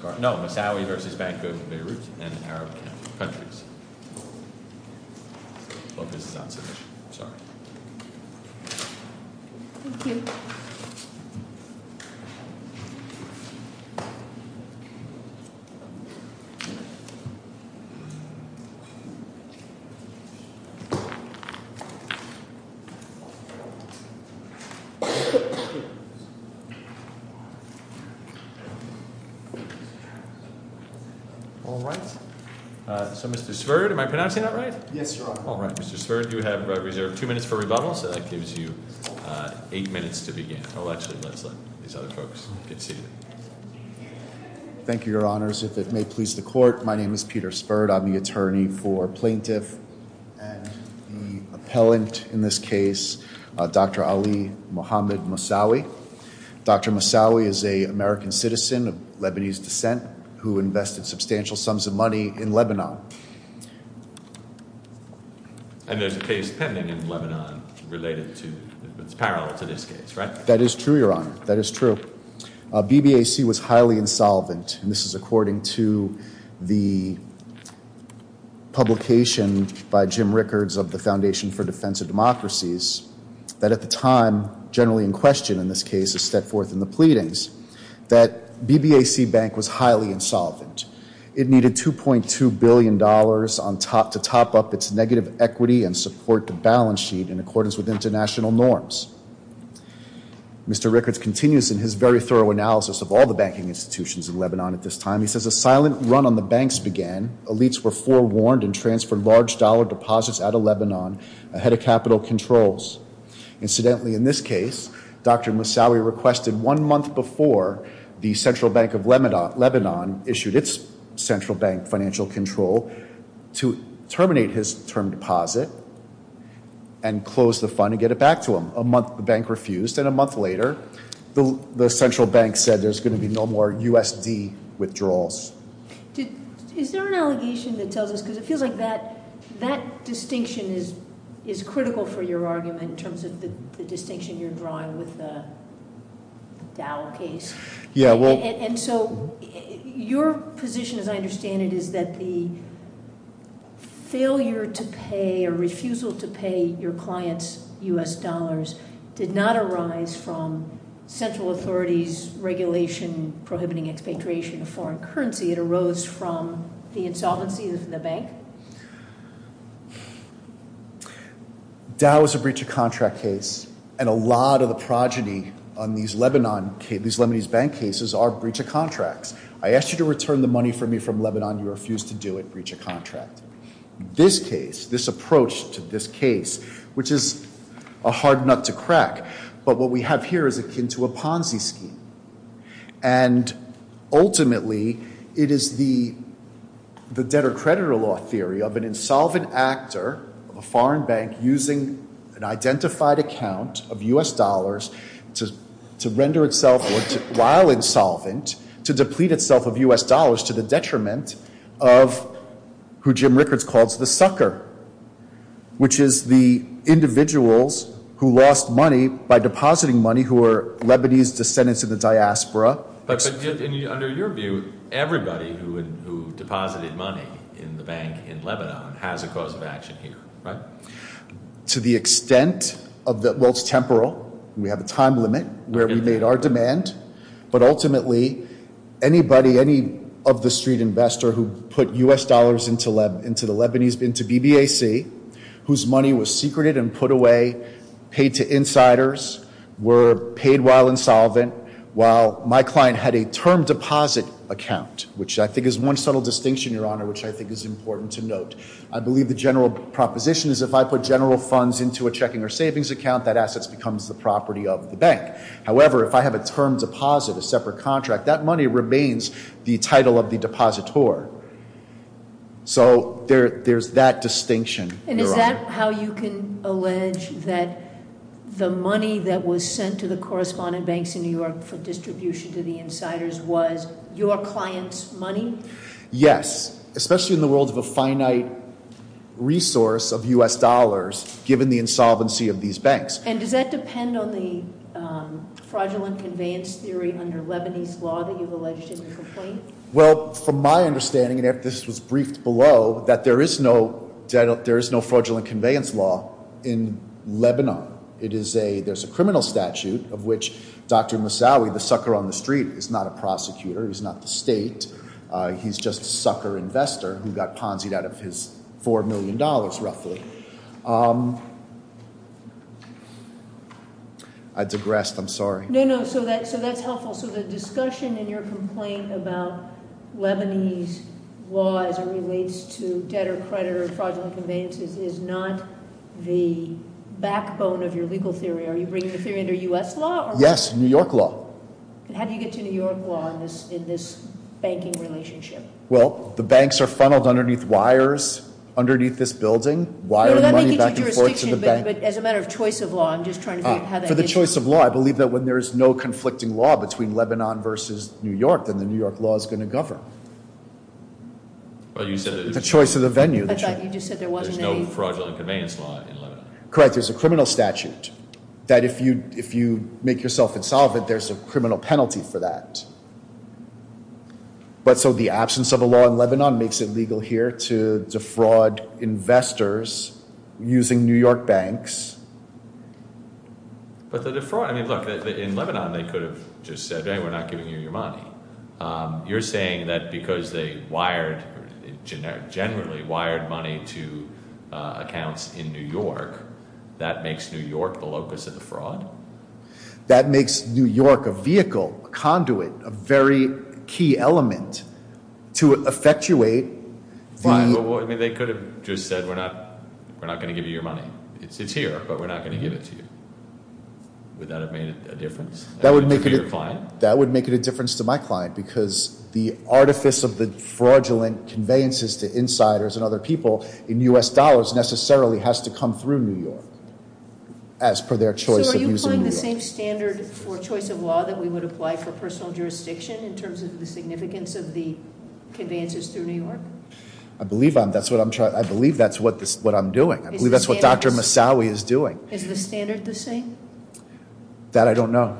I hope this is not too much, I'm sorry. All right. So Mr. Spurd, am I pronouncing that right? Yes, Your Honor. All right. Mr. Spurd, you have reserved two minutes for rebuttal, so that gives you eight minutes to begin. Well, actually, let's let these other folks get seated. Thank you, Your Honors. If it may please the Court, my name is Peter Spurd. I'm the attorney for plaintiff and the appellant in this case, Dr. Ali Mohamed Moussaoui. Dr. Moussaoui is an American citizen of Lebanese descent who invested substantial sums of money in Lebanon. And there's a case pending in Lebanon related to – it's parallel to this case, right? That is true, Your Honor. That is true. BBAC was highly insolvent, and this is according to the publication by Jim Rickards of the Foundation for Defense of Democracies, that at the time, generally in question in this case, a step forth in the pleadings, that BBAC Bank was highly insolvent. It needed $2.2 billion to top up its negative equity and support the balance sheet in accordance with international norms. Mr. Rickards continues in his very thorough analysis of all the banking institutions in Lebanon at this time. He says a silent run on the banks began. Elites were forewarned and transferred large dollar deposits out of Lebanon ahead of capital controls. Incidentally, in this case, Dr. Moussaoui requested one month before the Central Bank of Lebanon issued its central bank financial control to terminate his term deposit and close the fund and get it back to him. A month the bank refused, and a month later, the central bank said there's going to be no more USD withdrawals. Is there an allegation that tells us, because it feels like that distinction is critical for your argument in terms of the distinction you're drawing with the Dow case. And so your position, as I understand it, is that the failure to pay or refusal to pay your client's US dollars did not arise from central authorities' regulation prohibiting expatriation of foreign currency. It arose from the insolvency of the bank? Dow is a breach of contract case. And a lot of the progeny on these Lebanese bank cases are breach of contracts. I asked you to return the money for me from Lebanon. You refused to do it. Breach of contract. This case, this approach to this case, which is a hard nut to crack. But what we have here is akin to a Ponzi scheme. And ultimately, it is the debtor-creditor law theory of an insolvent actor, a foreign bank using an identified account of US dollars to render itself, while insolvent, to deplete itself of US dollars to the detriment of who Jim Rickards calls the sucker, which is the individuals who lost money by depositing money who are Lebanese descendants of the diaspora. But under your view, everybody who deposited money in the bank in Lebanon has a cause of action here, right? To the extent of the, well, it's temporal. We have a time limit where we made our demand. But ultimately, anybody, any of the street investor who put US dollars into the Lebanese, into BBAC, whose money was secreted and put away, paid to insiders, were paid while insolvent, while my client had a term deposit account, which I think is one subtle distinction, Your Honor, which I think is important to note. I believe the general proposition is if I put general funds into a checking or savings account, that assets becomes the property of the bank. However, if I have a term deposit, a separate contract, that money remains the title of the depositor. So there's that distinction, Your Honor. And is that how you can allege that the money that was sent to the correspondent banks in New York for distribution to the insiders was your client's money? Yes, especially in the world of a finite resource of US dollars, given the insolvency of these banks. And does that depend on the fraudulent conveyance theory under Lebanese law that you've alleged in the complaint? Well, from my understanding, and this was briefed below, that there is no fraudulent conveyance law in Lebanon. There's a criminal statute of which Dr. Moussaoui, the sucker on the street, is not a prosecutor, he's not the state, he's just a sucker investor who got ponzi'd out of his $4 million, roughly. I digressed, I'm sorry. No, no, so that's helpful. So the discussion in your complaint about Lebanese law as it relates to debtor-creditor fraudulent conveyances is not the backbone of your legal theory. Are you bringing the theory under US law? Yes, New York law. How do you get to New York law in this banking relationship? Well, the banks are funneled underneath wires, underneath this building, wired money back and forth to the bank. But as a matter of choice of law, I'm just trying to figure out how that is. For the choice of law, I believe that when there is no conflicting law between Lebanon versus New York, then the New York law is going to govern. The choice of the venue. I thought you just said there wasn't any. There's no fraudulent conveyance law in Lebanon. Correct, there's a criminal statute that if you make yourself insolvent, there's a criminal penalty for that. But so the absence of a law in Lebanon makes it legal here to defraud investors using New York banks. But the defraud, I mean, look, in Lebanon they could have just said, hey, we're not giving you your money. You're saying that because they wired, generally wired money to accounts in New York, that makes New York the locus of the fraud? That makes New York a vehicle, a conduit, a very key element to effectuate. Fine, but they could have just said, we're not going to give you your money. It's here, but we're not going to give it to you. Would that have made a difference to your client? That would make it a difference to my client because the artifice of the fraudulent conveyances to insiders and other people in U.S. dollars necessarily has to come through New York as per their choice of using it. So are you applying the same standard for choice of law that we would apply for personal jurisdiction in terms of the significance of the conveyances through New York? I believe that's what I'm doing. I believe that's what Dr. Massawi is doing. Is the standard the same? That I don't know.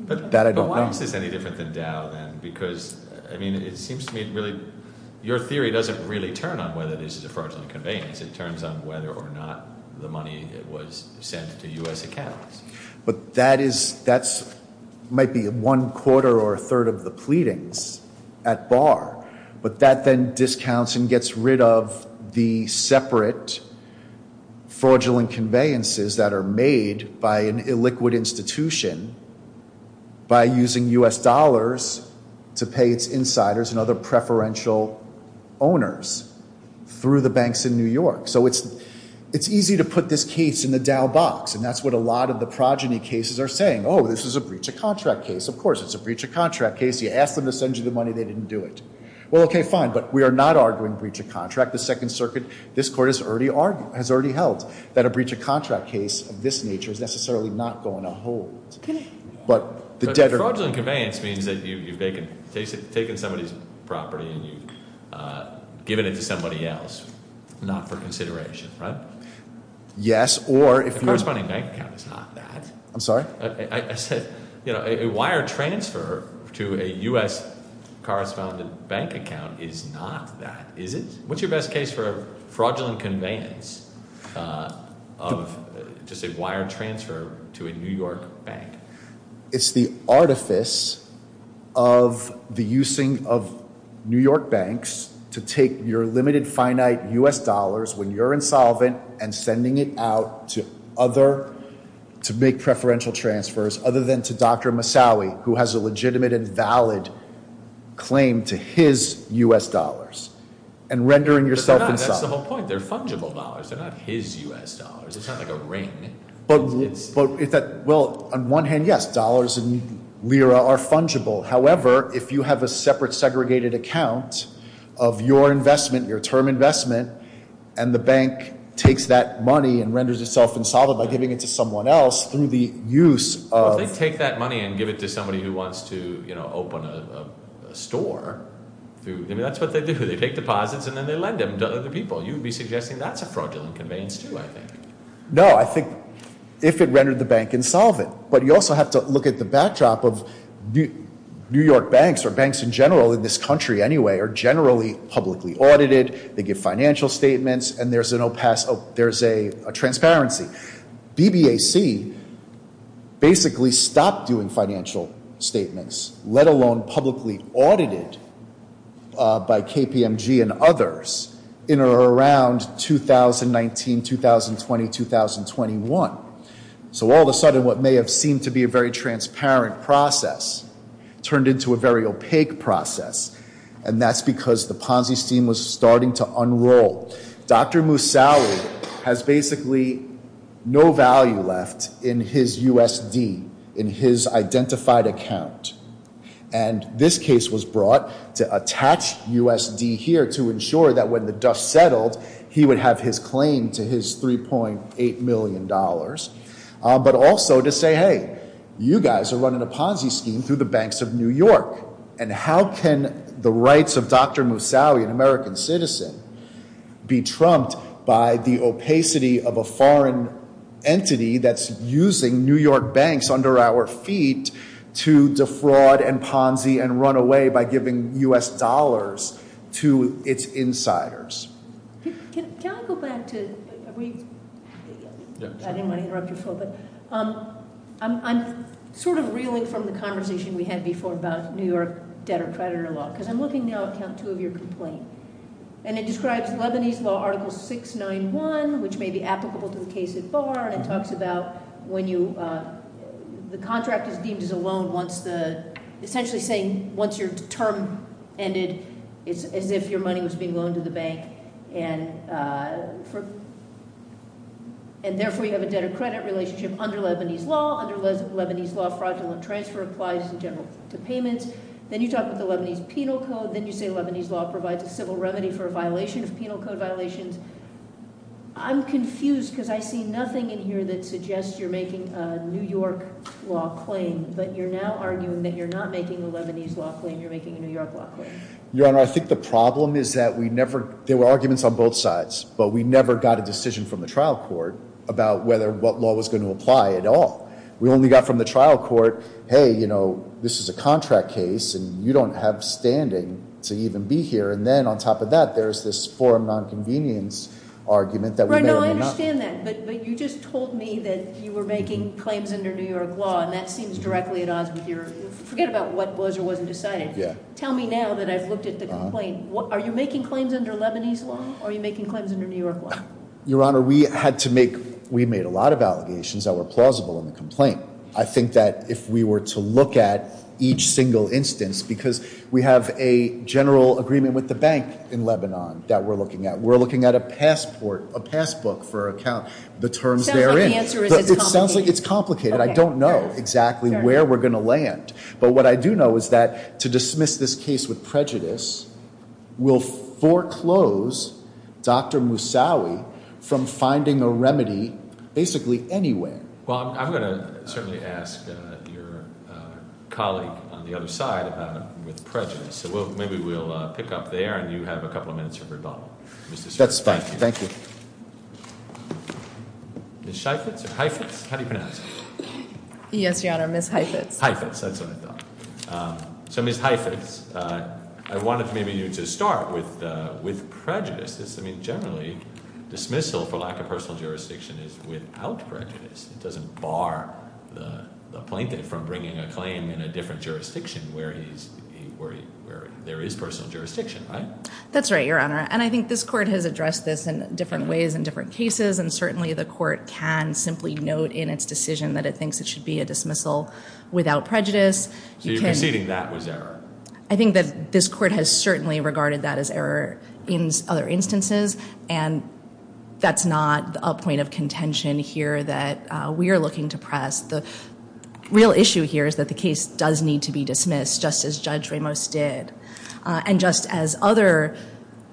But why is this any different than Dow then? Because, I mean, it seems to me really your theory doesn't really turn on whether this is a fraudulent conveyance. It turns on whether or not the money was sent to U.S. accounts. But that is, that might be one quarter or a third of the pleadings at bar. But that then discounts and gets rid of the separate fraudulent conveyances that are made by an illiquid institution by using U.S. dollars to pay its insiders and other preferential owners through the New York. So it's easy to put this case in the Dow box. And that's what a lot of the progeny cases are saying. Oh, this is a breach of contract case. Of course it's a breach of contract case. You ask them to send you the money, they didn't do it. Well, okay, fine. But we are not arguing breach of contract. The Second Circuit, this Court has already held that a breach of contract case of this nature is necessarily not going to hold. But the debtor- Fraudulent conveyance means that you've taken somebody's property and you've given it to somebody else, not for consideration, right? Yes, or- The corresponding bank account is not that. I'm sorry? I said a wire transfer to a U.S. correspondent bank account is not that, is it? What's your best case for fraudulent conveyance of just a wire transfer to a New York bank? It's the artifice of the using of New York banks to take your limited, finite U.S. dollars when you're insolvent and sending it out to other, to make preferential transfers other than to Dr. Massawi, who has a legitimate and valid claim to his U.S. dollars and rendering yourself insolvent. But they're not. That's the whole point. They're fungible dollars. They're not his U.S. dollars. It's not like a ring. Well, on one hand, yes, dollars and lira are fungible. However, if you have a separate segregated account of your investment, your term investment, and the bank takes that money and renders itself insolvent by giving it to someone else through the use of- Well, if they take that money and give it to somebody who wants to open a store, that's what they do. They take deposits and then they lend them to other people. You would be suggesting that's a fraudulent conveyance too, I think. No, I think if it rendered the bank insolvent. But you also have to look at the backdrop of New York banks, or banks in general in this country anyway, are generally publicly audited. They give financial statements, and there's a transparency. BBAC basically stopped doing financial statements, let alone publicly audited by KPMG and others in or around 2019, 2020, 2021. So all of a sudden, what may have seemed to be a very transparent process turned into a very opaque process, and that's because the Ponzi scheme was starting to unroll. Dr. Moussaoui has basically no value left in his USD, in his was brought to attach USD here to ensure that when the dust settled, he would have his claim to his $3.8 million. But also to say, hey, you guys are running a Ponzi scheme through the banks of New York. And how can the rights of Dr. Moussaoui, an American citizen, be trumped by the opacity of a foreign entity that's using New York banks under our feet to defraud and Ponzi and run away by giving U.S. dollars to its insiders? Can I go back to... I didn't want to interrupt you, Phil, but I'm sort of reeling from the conversation we had before about New York debtor-creditor law, because I'm looking now at count two of your complaint. And it describes Lebanese law article 691, which may be applicable to the case at bar. And it talks about when you... The contract is deemed as a loan once the... Essentially saying once your term ended, it's as if your money was being loaned to the bank. And therefore you have a debtor-credit relationship under Lebanese law. Under Lebanese law, fraudulent transfer applies in general to payments. Then you talk about the Lebanese penal code. Then you say Lebanese law provides a civil remedy for a violation of penal code violations. I'm confused, because I see nothing in here that suggests you're making a New York law claim, but you're now arguing that you're not making a Lebanese law claim. You're making a New York law claim. Your Honor, I think the problem is that we never... There were arguments on both sides, but we never got a decision from the trial court about whether what law was going to apply at all. We only got from the trial court, hey, you know, this is a contract case and you don't have standing to even be here. And then on top of that, there's this forum nonconvenience argument that we may or may not... I understand that, but you just told me that you were making claims under New York law, and that seems directly at odds with your... Forget about what was or wasn't decided. Tell me now that I've looked at the complaint. Are you making claims under Lebanese law, or are you making claims under New York law? Your Honor, we had to make... We made a lot of allegations that were plausible in the complaint. I think that if we were to look at each single instance, because we have a general agreement with the bank in Lebanon that we're looking at, we're looking at a passport, a passbook for the terms therein. Sounds like the answer is it's complicated. It sounds like it's complicated. I don't know exactly where we're going to land. But what I do know is that to dismiss this case with prejudice will foreclose Dr. Moussaoui from finding a remedy basically anywhere. Well, I'm going to certainly ask your colleague on the other side about it with prejudice. So maybe we'll pick up there, and you have a couple of minutes for rebuttal. That's fine. Thank you. Ms. Sheifetz or Heifetz? How do you pronounce it? Yes, Your Honor, Ms. Heifetz. Heifetz, that's what I thought. So, Ms. Heifetz, I wanted maybe you to start with prejudice. I mean, generally dismissal for lack of personal jurisdiction is without prejudice. It doesn't bar the plaintiff from bringing a claim in a different jurisdiction where there is personal jurisdiction, right? That's right, Your Honor, and I think this court has addressed this in different ways in different cases, and certainly the court can simply note in its decision that it thinks it should be a dismissal without prejudice. So you're conceding that was error? I think that this court has certainly regarded that as error in other instances, and that's not a point of contention here that we are looking to press. The real issue here is that the case does need to be dismissed, just as Judge Ramos did, and just as other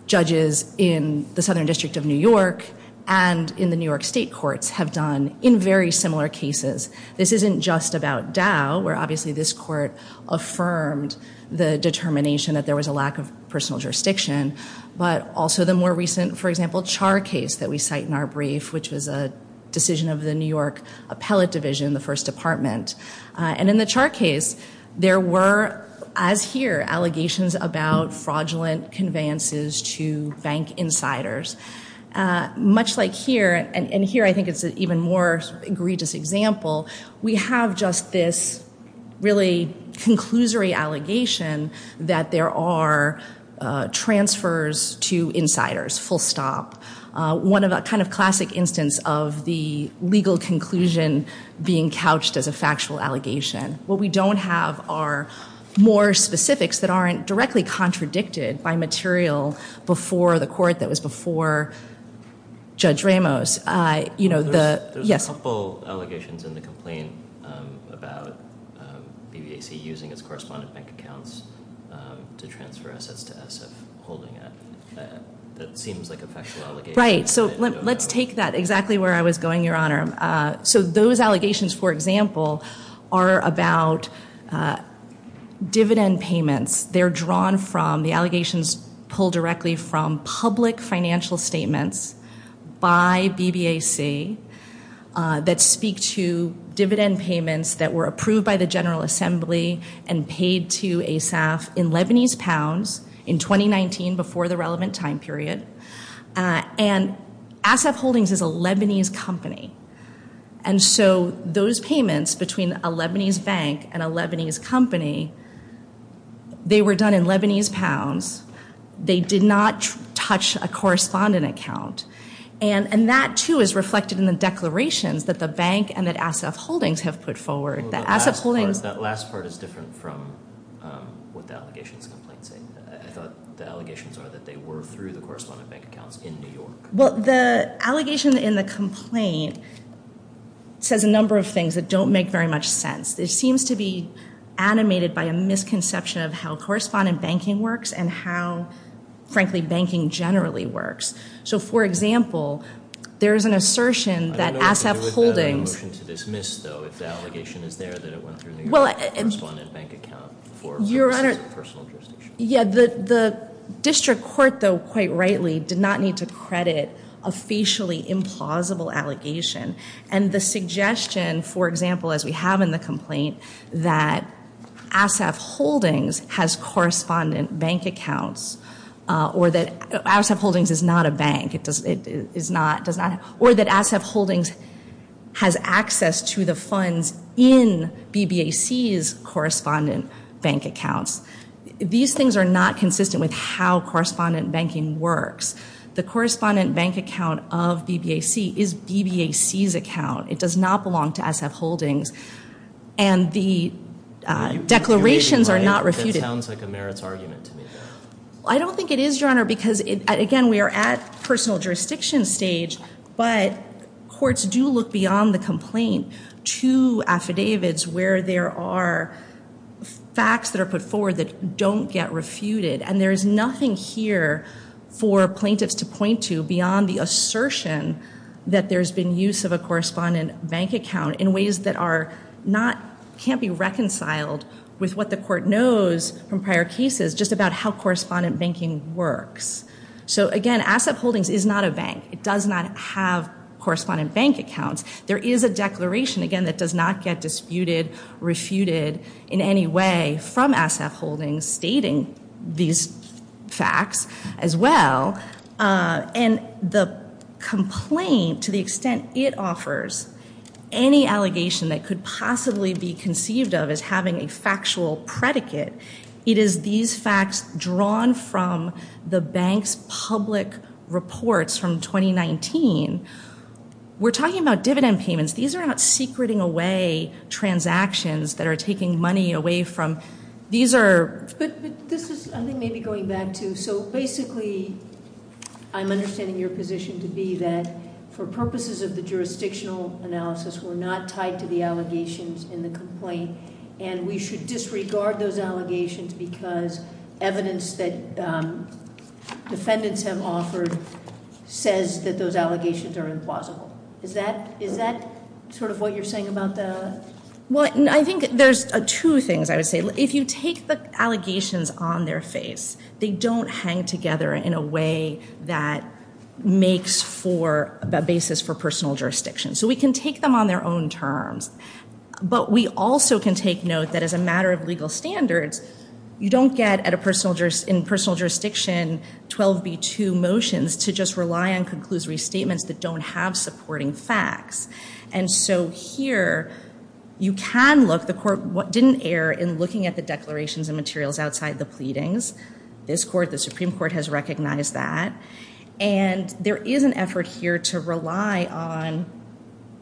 judges in the Southern District of New York and in the New York State courts have done in very similar cases. This isn't just about Dow, where obviously this court affirmed the determination that there was a lack of personal jurisdiction, but also the more recent, for example, Char case that we cite in our brief, which was a decision of the New York Appellate Division, the First Department. And in the Char case, there were, as here, allegations about fraudulent conveyances to bank insiders. Much like here, and here I think it's an even more egregious example, we have just this really conclusory allegation that there are transfers to insiders, full stop. One of a kind of classic instance of the legal conclusion being couched as a factual allegation. What we don't have are more specifics that aren't directly contradicted by material before the court that was before Judge Ramos. There's a couple allegations in the complaint about BBAC using its correspondent bank accounts to transfer assets to SF, that seems like a factual allegation. Right, so let's take that exactly where I was going, Your Honor. So those allegations, for example, are about dividend payments. They're drawn from, the allegations pull directly from, public financial statements by BBAC that speak to dividend payments that were approved by the General Assembly and paid to SF in Lebanese pounds in 2019 before the relevant time period. And SF Holdings is a Lebanese company. And so those payments between a Lebanese bank and a Lebanese company, they were done in Lebanese pounds. They did not touch a correspondent account. And that too is reflected in the declarations that the bank and that SF Holdings have put forward. That last part is different from what the allegations in the complaint say. I thought the allegations are that they were through the correspondent bank accounts in New York. Well, the allegation in the complaint says a number of things that don't make very much sense. It seems to be animated by a misconception of how correspondent banking works and how, frankly, banking generally works. So, for example, there is an assertion that SF Holdings What about a motion to dismiss, though, if the allegation is there that it went through the correspondent bank account? Your Honor, the district court, though, quite rightly, did not need to credit a facially implausible allegation. And the suggestion, for example, as we have in the complaint, that SF Holdings has correspondent bank accounts or that SF Holdings is not a bank, or that SF Holdings has access to the funds in BBAC's correspondent bank accounts. These things are not consistent with how correspondent banking works. The correspondent bank account of BBAC is BBAC's account. It does not belong to SF Holdings. And the declarations are not refuted. That sounds like a merits argument to me. I don't think it is, Your Honor, because, again, we are at personal jurisdiction stage, but courts do look beyond the complaint to affidavits where there are facts that are put forward that don't get refuted. And there is nothing here for plaintiffs to point to beyond the assertion that there's been use of a correspondent bank account in ways that can't be reconciled with what the court knows from prior cases just about how correspondent banking works. So, again, SF Holdings is not a bank. It does not have correspondent bank accounts. There is a declaration, again, that does not get disputed, refuted in any way from SF Holdings stating these facts as well. And the complaint, to the extent it offers, any allegation that could possibly be conceived of as having a factual predicate, it is these facts drawn from the bank's public reports from 2019. We're talking about dividend payments. These are not secreting away transactions that are taking money away from. These are. But this is, I think, maybe going back to. So, basically, I'm understanding your position to be that for purposes of the jurisdictional analysis, we're not tied to the allegations in the complaint, and we should disregard those allegations because evidence that defendants have offered says that those allegations are implausible. Is that sort of what you're saying about that? Well, I think there's two things I would say. If you take the allegations on their face, they don't hang together in a way that makes for a basis for personal jurisdiction. So we can take them on their own terms. But we also can take note that as a matter of legal standards, you don't get in personal jurisdiction 12b-2 motions to just rely on conclusory statements that don't have supporting facts. And so here, you can look. The court didn't err in looking at the declarations and materials outside the pleadings. This court, the Supreme Court, has recognized that. And there is an effort here to rely on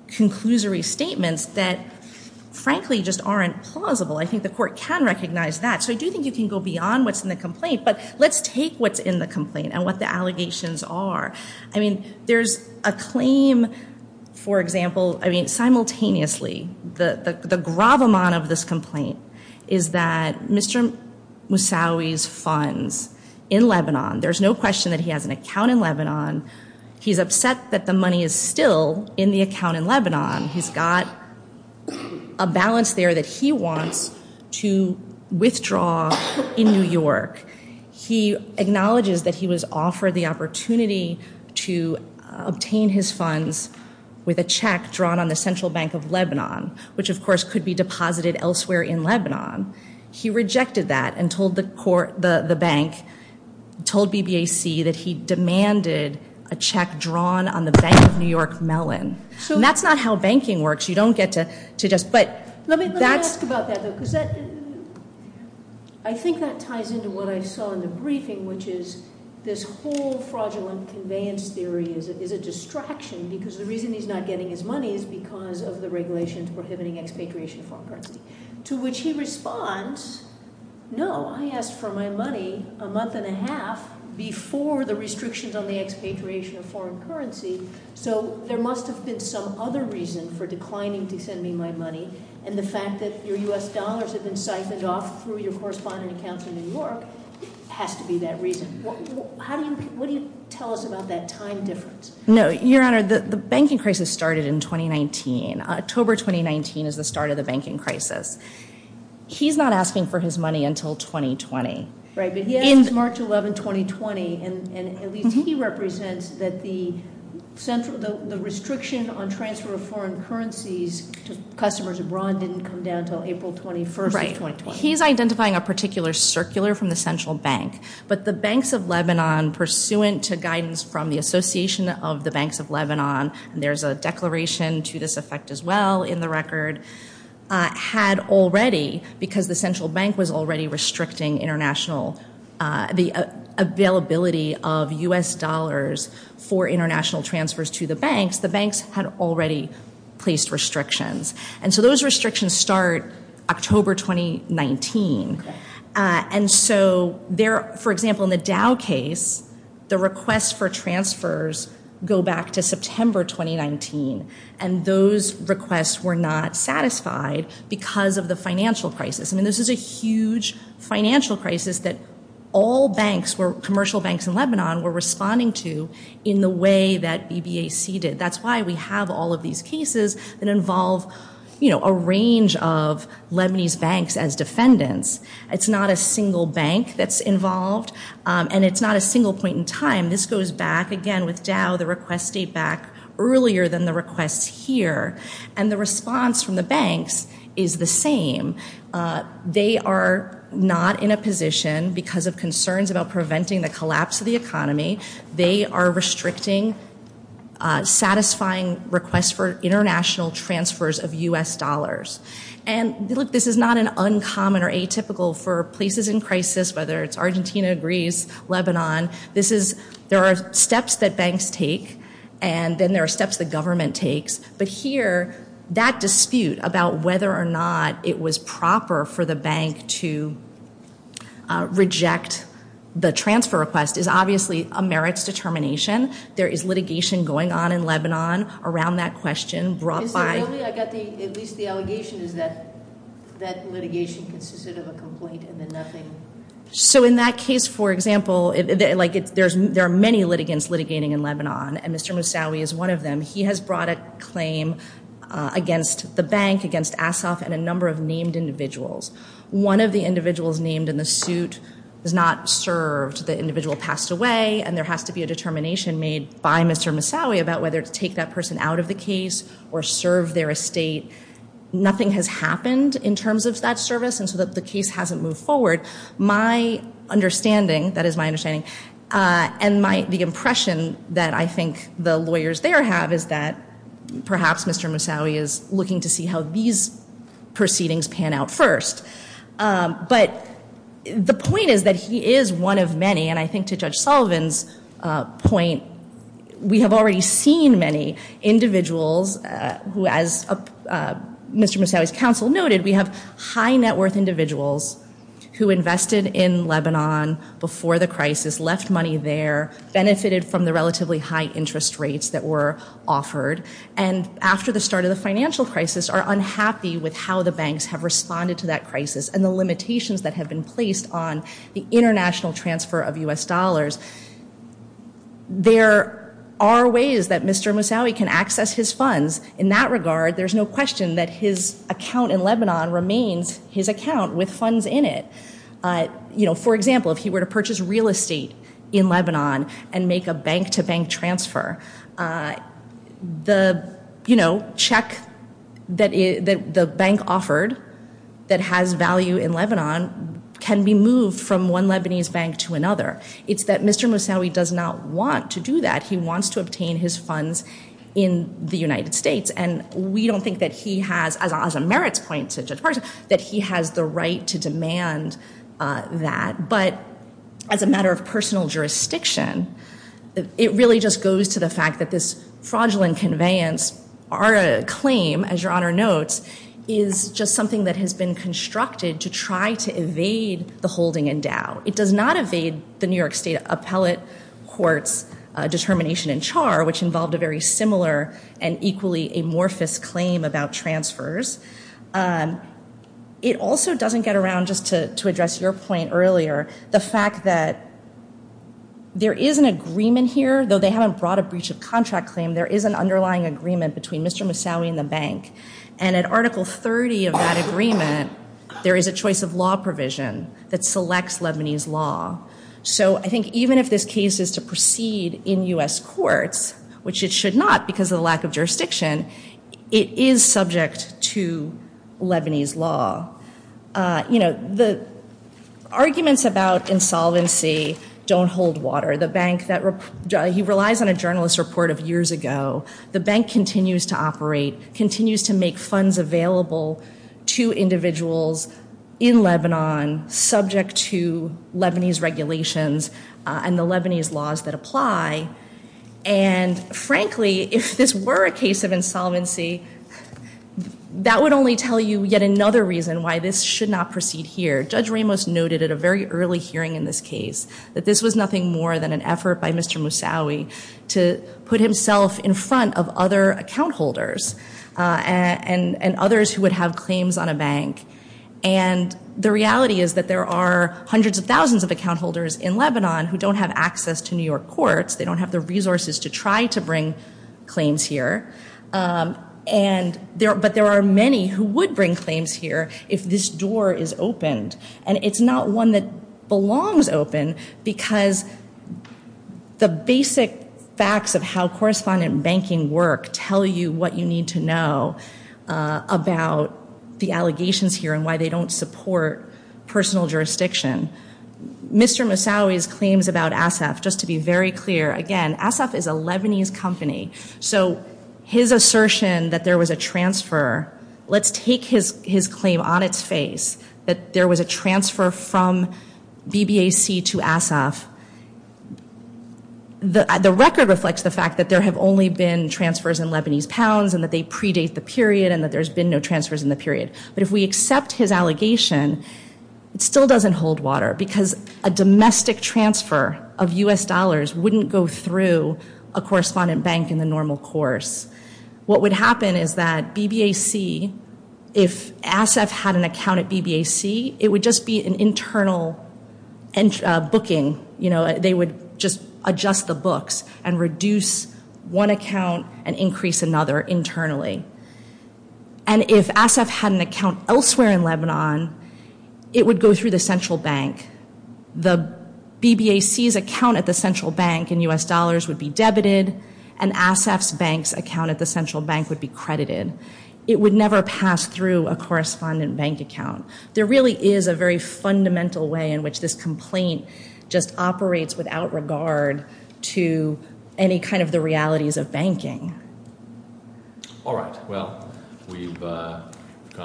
conclusory statements that, frankly, just aren't plausible. I think the court can recognize that. So I do think you can go beyond what's in the complaint. But let's take what's in the complaint and what the allegations are. I mean, there's a claim, for example, I mean, simultaneously, the gravamon of this complaint is that Mr. Moussaoui's funds in Lebanon, there's no question that he has an account in Lebanon. He's upset that the money is still in the account in Lebanon. He's got a balance there that he wants to withdraw in New York. He acknowledges that he was offered the opportunity to obtain his funds with a check drawn on the central bank of Lebanon, which, of course, could be deposited elsewhere in Lebanon. He rejected that and told the bank, told BBAC, that he demanded a check drawn on the bank of New York, Mellon. And that's not how banking works. You don't get to just – but that's – Let me ask about that, though, because that – I think that ties into what I saw in the briefing, which is this whole fraudulent conveyance theory is a distraction because the reason he's not getting his money is because of the regulations prohibiting expatriation of foreign currency, to which he responds, no, I asked for my money a month and a half before the restrictions on the expatriation of foreign currency, so there must have been some other reason for declining to send me my money. And the fact that your U.S. dollars have been siphoned off through your correspondent accounts in New York has to be that reason. How do you – what do you tell us about that time difference? No, Your Honor, the banking crisis started in 2019. October 2019 is the start of the banking crisis. He's not asking for his money until 2020. Right, but he asks March 11, 2020, and at least he represents that the central – the restriction on transfer of foreign currencies to customers abroad didn't come down until April 21st of 2020. Right. He's identifying a particular circular from the central bank, but the banks of Lebanon, pursuant to guidance from the Association of the Banks of Lebanon, and there's a declaration to this effect as well in the record, had already, because the central bank was already restricting international – the availability of U.S. dollars for international transfers to the banks, the banks had already placed restrictions. And so those restrictions start October 2019. And so there – for example, in the Dow case, the requests for transfers go back to September 2019, and those requests were not satisfied because of the financial crisis. I mean, this is a huge financial crisis that all banks were – commercial banks in Lebanon were responding to in the way that BBAC did. That's why we have all of these cases that involve, you know, a range of Lebanese banks as defendants. It's not a single bank that's involved, and it's not a single point in time. This goes back, again, with Dow. The requests date back earlier than the requests here. And the response from the banks is the same. They are not in a position, because of concerns about preventing the collapse of the economy, they are restricting satisfying requests for international transfers of U.S. dollars. And, look, this is not an uncommon or atypical for places in crisis, whether it's Argentina, Greece, Lebanon. This is – there are steps that banks take, and then there are steps the government takes. But here, that dispute about whether or not it was proper for the bank to reject the transfer request is obviously a merits determination. There is litigation going on in Lebanon around that question brought by – At least the allegation is that that litigation consisted of a complaint and then nothing. So in that case, for example, like there are many litigants litigating in Lebanon, and Mr. Moussaoui is one of them. He has brought a claim against the bank, against Asof, and a number of named individuals. One of the individuals named in the suit was not served. The individual passed away, and there has to be a determination made by Mr. Moussaoui about whether to take that person out of the case or serve their estate. Nothing has happened in terms of that service, and so the case hasn't moved forward. My understanding – that is my understanding – and the impression that I think the lawyers there have is that perhaps Mr. Moussaoui is looking to see how these proceedings pan out first. But the point is that he is one of many, and I think to Judge Sullivan's point, we have already seen many individuals who, as Mr. Moussaoui's counsel noted, we have high net worth individuals who invested in Lebanon before the crisis, left money there, benefited from the relatively high interest rates that were offered, and after the start of the financial crisis are unhappy with how the banks have responded to that crisis and the limitations that have been placed on the international transfer of U.S. dollars. There are ways that Mr. Moussaoui can access his funds in that regard. There's no question that his account in Lebanon remains his account with funds in it. For example, if he were to purchase real estate in Lebanon and make a bank-to-bank transfer, the check that the bank offered that has value in Lebanon can be moved from one Lebanese bank to another. It's that Mr. Moussaoui does not want to do that. He wants to obtain his funds in the United States, and we don't think that he has, as Merit's point to Judge Parkinson, that he has the right to demand that. But as a matter of personal jurisdiction, it really just goes to the fact that this fraudulent conveyance, our claim, as Your Honor notes, is just something that has been constructed to try to evade the holding in doubt. It does not evade the New York State Appellate Court's determination in Char, which involved a very similar and equally amorphous claim about transfers. It also doesn't get around, just to address your point earlier, the fact that there is an agreement here. Though they haven't brought a breach of contract claim, there is an underlying agreement between Mr. Moussaoui and the bank. And at Article 30 of that agreement, there is a choice of law provision that selects Lebanese law. So I think even if this case is to proceed in U.S. courts, which it should not because of the lack of jurisdiction, it is subject to Lebanese law. You know, the arguments about insolvency don't hold water. He relies on a journalist report of years ago. The bank continues to operate, continues to make funds available to individuals in Lebanon, subject to Lebanese regulations and the Lebanese laws that apply. And frankly, if this were a case of insolvency, that would only tell you yet another reason why this should not proceed here. Judge Ramos noted at a very early hearing in this case that this was nothing more than an effort by Mr. Moussaoui to put himself in front of other account holders and others who would have claims on a bank. And the reality is that there are hundreds of thousands of account holders in Lebanon who don't have access to New York courts. They don't have the resources to try to bring claims here. But there are many who would bring claims here if this door is opened. And it's not one that belongs open because the basic facts of how correspondent banking work tell you what you need to know about the allegations here and why they don't support personal jurisdiction. Mr. Moussaoui's claims about Asaf, just to be very clear, again, Asaf is a Lebanese company. So his assertion that there was a transfer, let's take his claim on its face that there was a transfer from BBAC to Asaf. The record reflects the fact that there have only been transfers in Lebanese pounds and that they predate the period and that there's been no transfers in the period. But if we accept his allegation, it still doesn't hold water because a domestic transfer of U.S. dollars wouldn't go through a correspondent bank in the normal course. What would happen is that BBAC, if Asaf had an account at BBAC, it would just be an internal booking. They would just adjust the books and reduce one account and increase another internally. And if Asaf had an account elsewhere in Lebanon, it would go through the central bank. The BBAC's account at the central bank in U.S. dollars would be debited and Asaf's bank's account at the central bank would be credited. It would never pass through a correspondent bank account. There really is a very fundamental way in which this complaint just operates without regard to any kind of the realities of banking. All right. Well, we've gone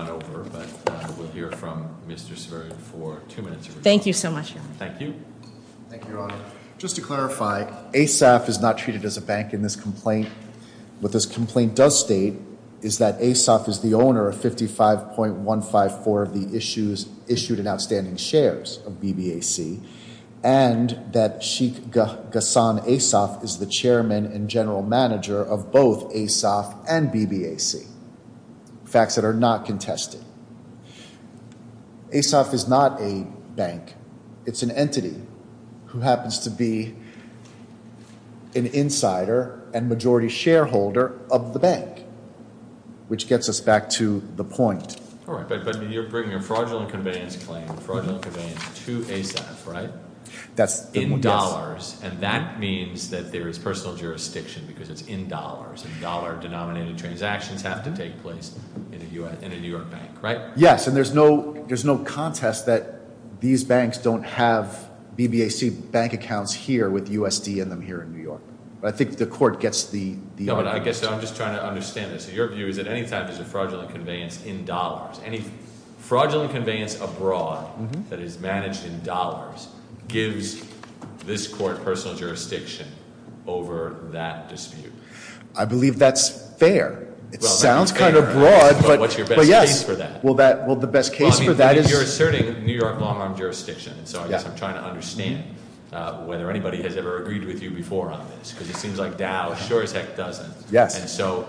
over, but we'll hear from Mr. Severin for two minutes. Thank you so much, Your Honor. Thank you. Thank you, Your Honor. Just to clarify, Asaf is not treated as a bank in this complaint. What this complaint does state is that Asaf is the owner of 55.154 of the issued and outstanding shares of BBAC and that Sheikh Ghassan Asaf is the chairman and general manager of both Asaf and BBAC, facts that are not contested. Asaf is not a bank. It's an entity who happens to be an insider and majority shareholder of the bank, which gets us back to the point. All right. But you're bringing a fraudulent conveyance claim, fraudulent conveyance to Asaf, right? In dollars, and that means that there is personal jurisdiction because it's in dollars, and dollar-denominated transactions have to take place in a New York bank, right? Yes, and there's no contest that these banks don't have BBAC bank accounts here with USD in them here in New York. I think the court gets the argument. But I guess I'm just trying to understand this. So your view is that any time there's a fraudulent conveyance in dollars, any fraudulent conveyance abroad that is managed in dollars gives this court personal jurisdiction over that dispute. I believe that's fair. It sounds kind of broad, but yes. What's your best case for that? Well, the best case for that is- Well, I mean, you're asserting New York long-arm jurisdiction. So I guess I'm trying to understand whether anybody has ever agreed with you before on this, because it seems like Dow sure as heck doesn't. And so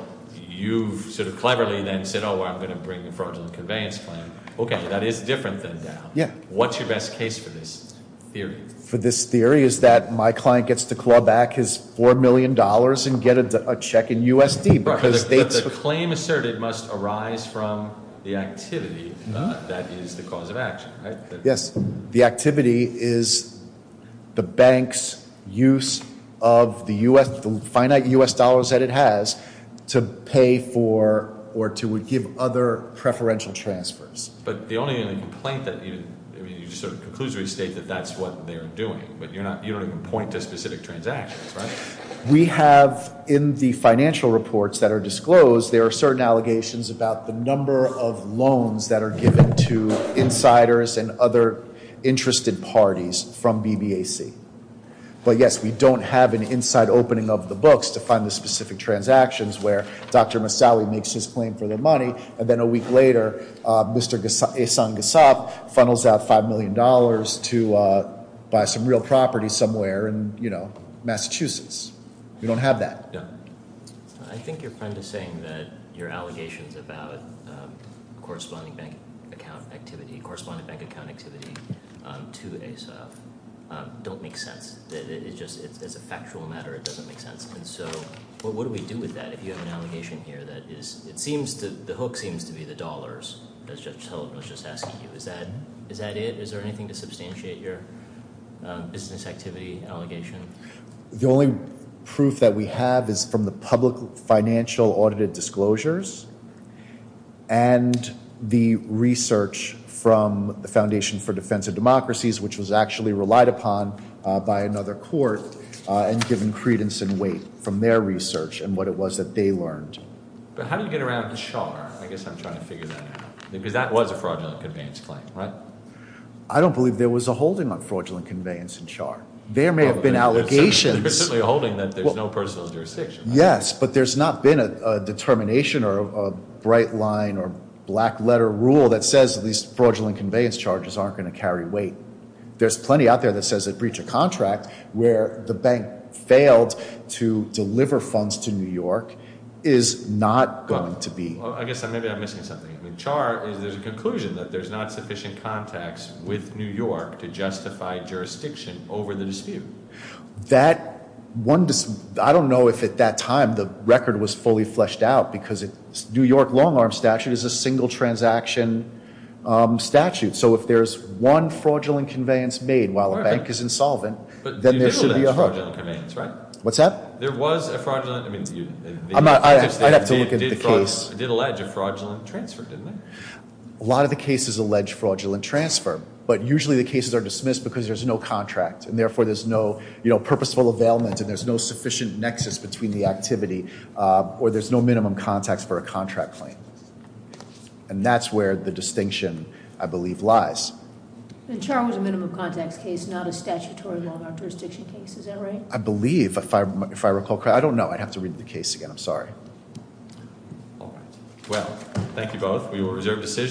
you've sort of cleverly then said, oh, well, I'm going to bring a fraudulent conveyance plan. Okay, that is different than Dow. Yeah. What's your best case for this theory? For this theory is that my client gets to claw back his $4 million and get a check in USD because they- But the claim asserted must arise from the activity that is the cause of action, right? Yes. The activity is the bank's use of the finite U.S. dollars that it has to pay for or to give other preferential transfers. But the only complaint that you sort of conclusively state that that's what they're doing, but you don't even point to specific transactions, right? We have in the financial reports that are disclosed, there are certain allegations about the number of loans that are given to insiders and other interested parties from BBAC. But yes, we don't have an inside opening of the books to find the specific transactions where Dr. Massali makes his claim for the money. And then a week later, Mr. Ehsan Ghassaf funnels out $5 million to buy some real property somewhere in Massachusetts. We don't have that. Yeah. I think you're kind of saying that your allegations about corresponding bank account activity, corresponding bank account activity to Ehsan don't make sense. It's just as a factual matter, it doesn't make sense. And so what do we do with that if you have an allegation here that the hook seems to be the dollars, as Judge Sullivan was just asking you? Is that it? Is there anything to substantiate your business activity allegation? The only proof that we have is from the public financial audited disclosures and the research from the Foundation for Defense of Democracies, which was actually relied upon by another court and given credence and weight from their research and what it was that they learned. But how did you get around to Char? I guess I'm trying to figure that out. Because that was a fraudulent conveyance claim, right? I don't believe there was a holding on fraudulent conveyance in Char. There may have been allegations. There's certainly a holding that there's no personal jurisdiction. Yes, but there's not been a determination or a bright line or black letter rule that says these fraudulent conveyance charges aren't going to carry weight. There's plenty out there that says a breach of contract where the bank failed to deliver funds to New York is not going to be. I guess maybe I'm missing something. In Char, there's a conclusion that there's not sufficient context with New York to justify jurisdiction over the dispute. I don't know if at that time the record was fully fleshed out because New York long arm statute is a single transaction statute. So if there's one fraudulent conveyance made while a bank is insolvent, then there should be a hook. But you did allege fraudulent conveyance, right? What's that? There was a fraudulent, I mean- I'd have to look at the case. It did allege a fraudulent transfer, didn't it? A lot of the cases allege fraudulent transfer, but usually the cases are dismissed because there's no contract. And therefore, there's no purposeful availment and there's no sufficient nexus between the activity or there's no minimum context for a contract claim. And that's where the distinction, I believe, lies. And Char was a minimum context case, not a statutory long arm jurisdiction case, is that right? I believe, if I recall correctly. I don't know. I'd have to read the case again. I'm sorry. All right. Well, thank you both. We will reserve decisions.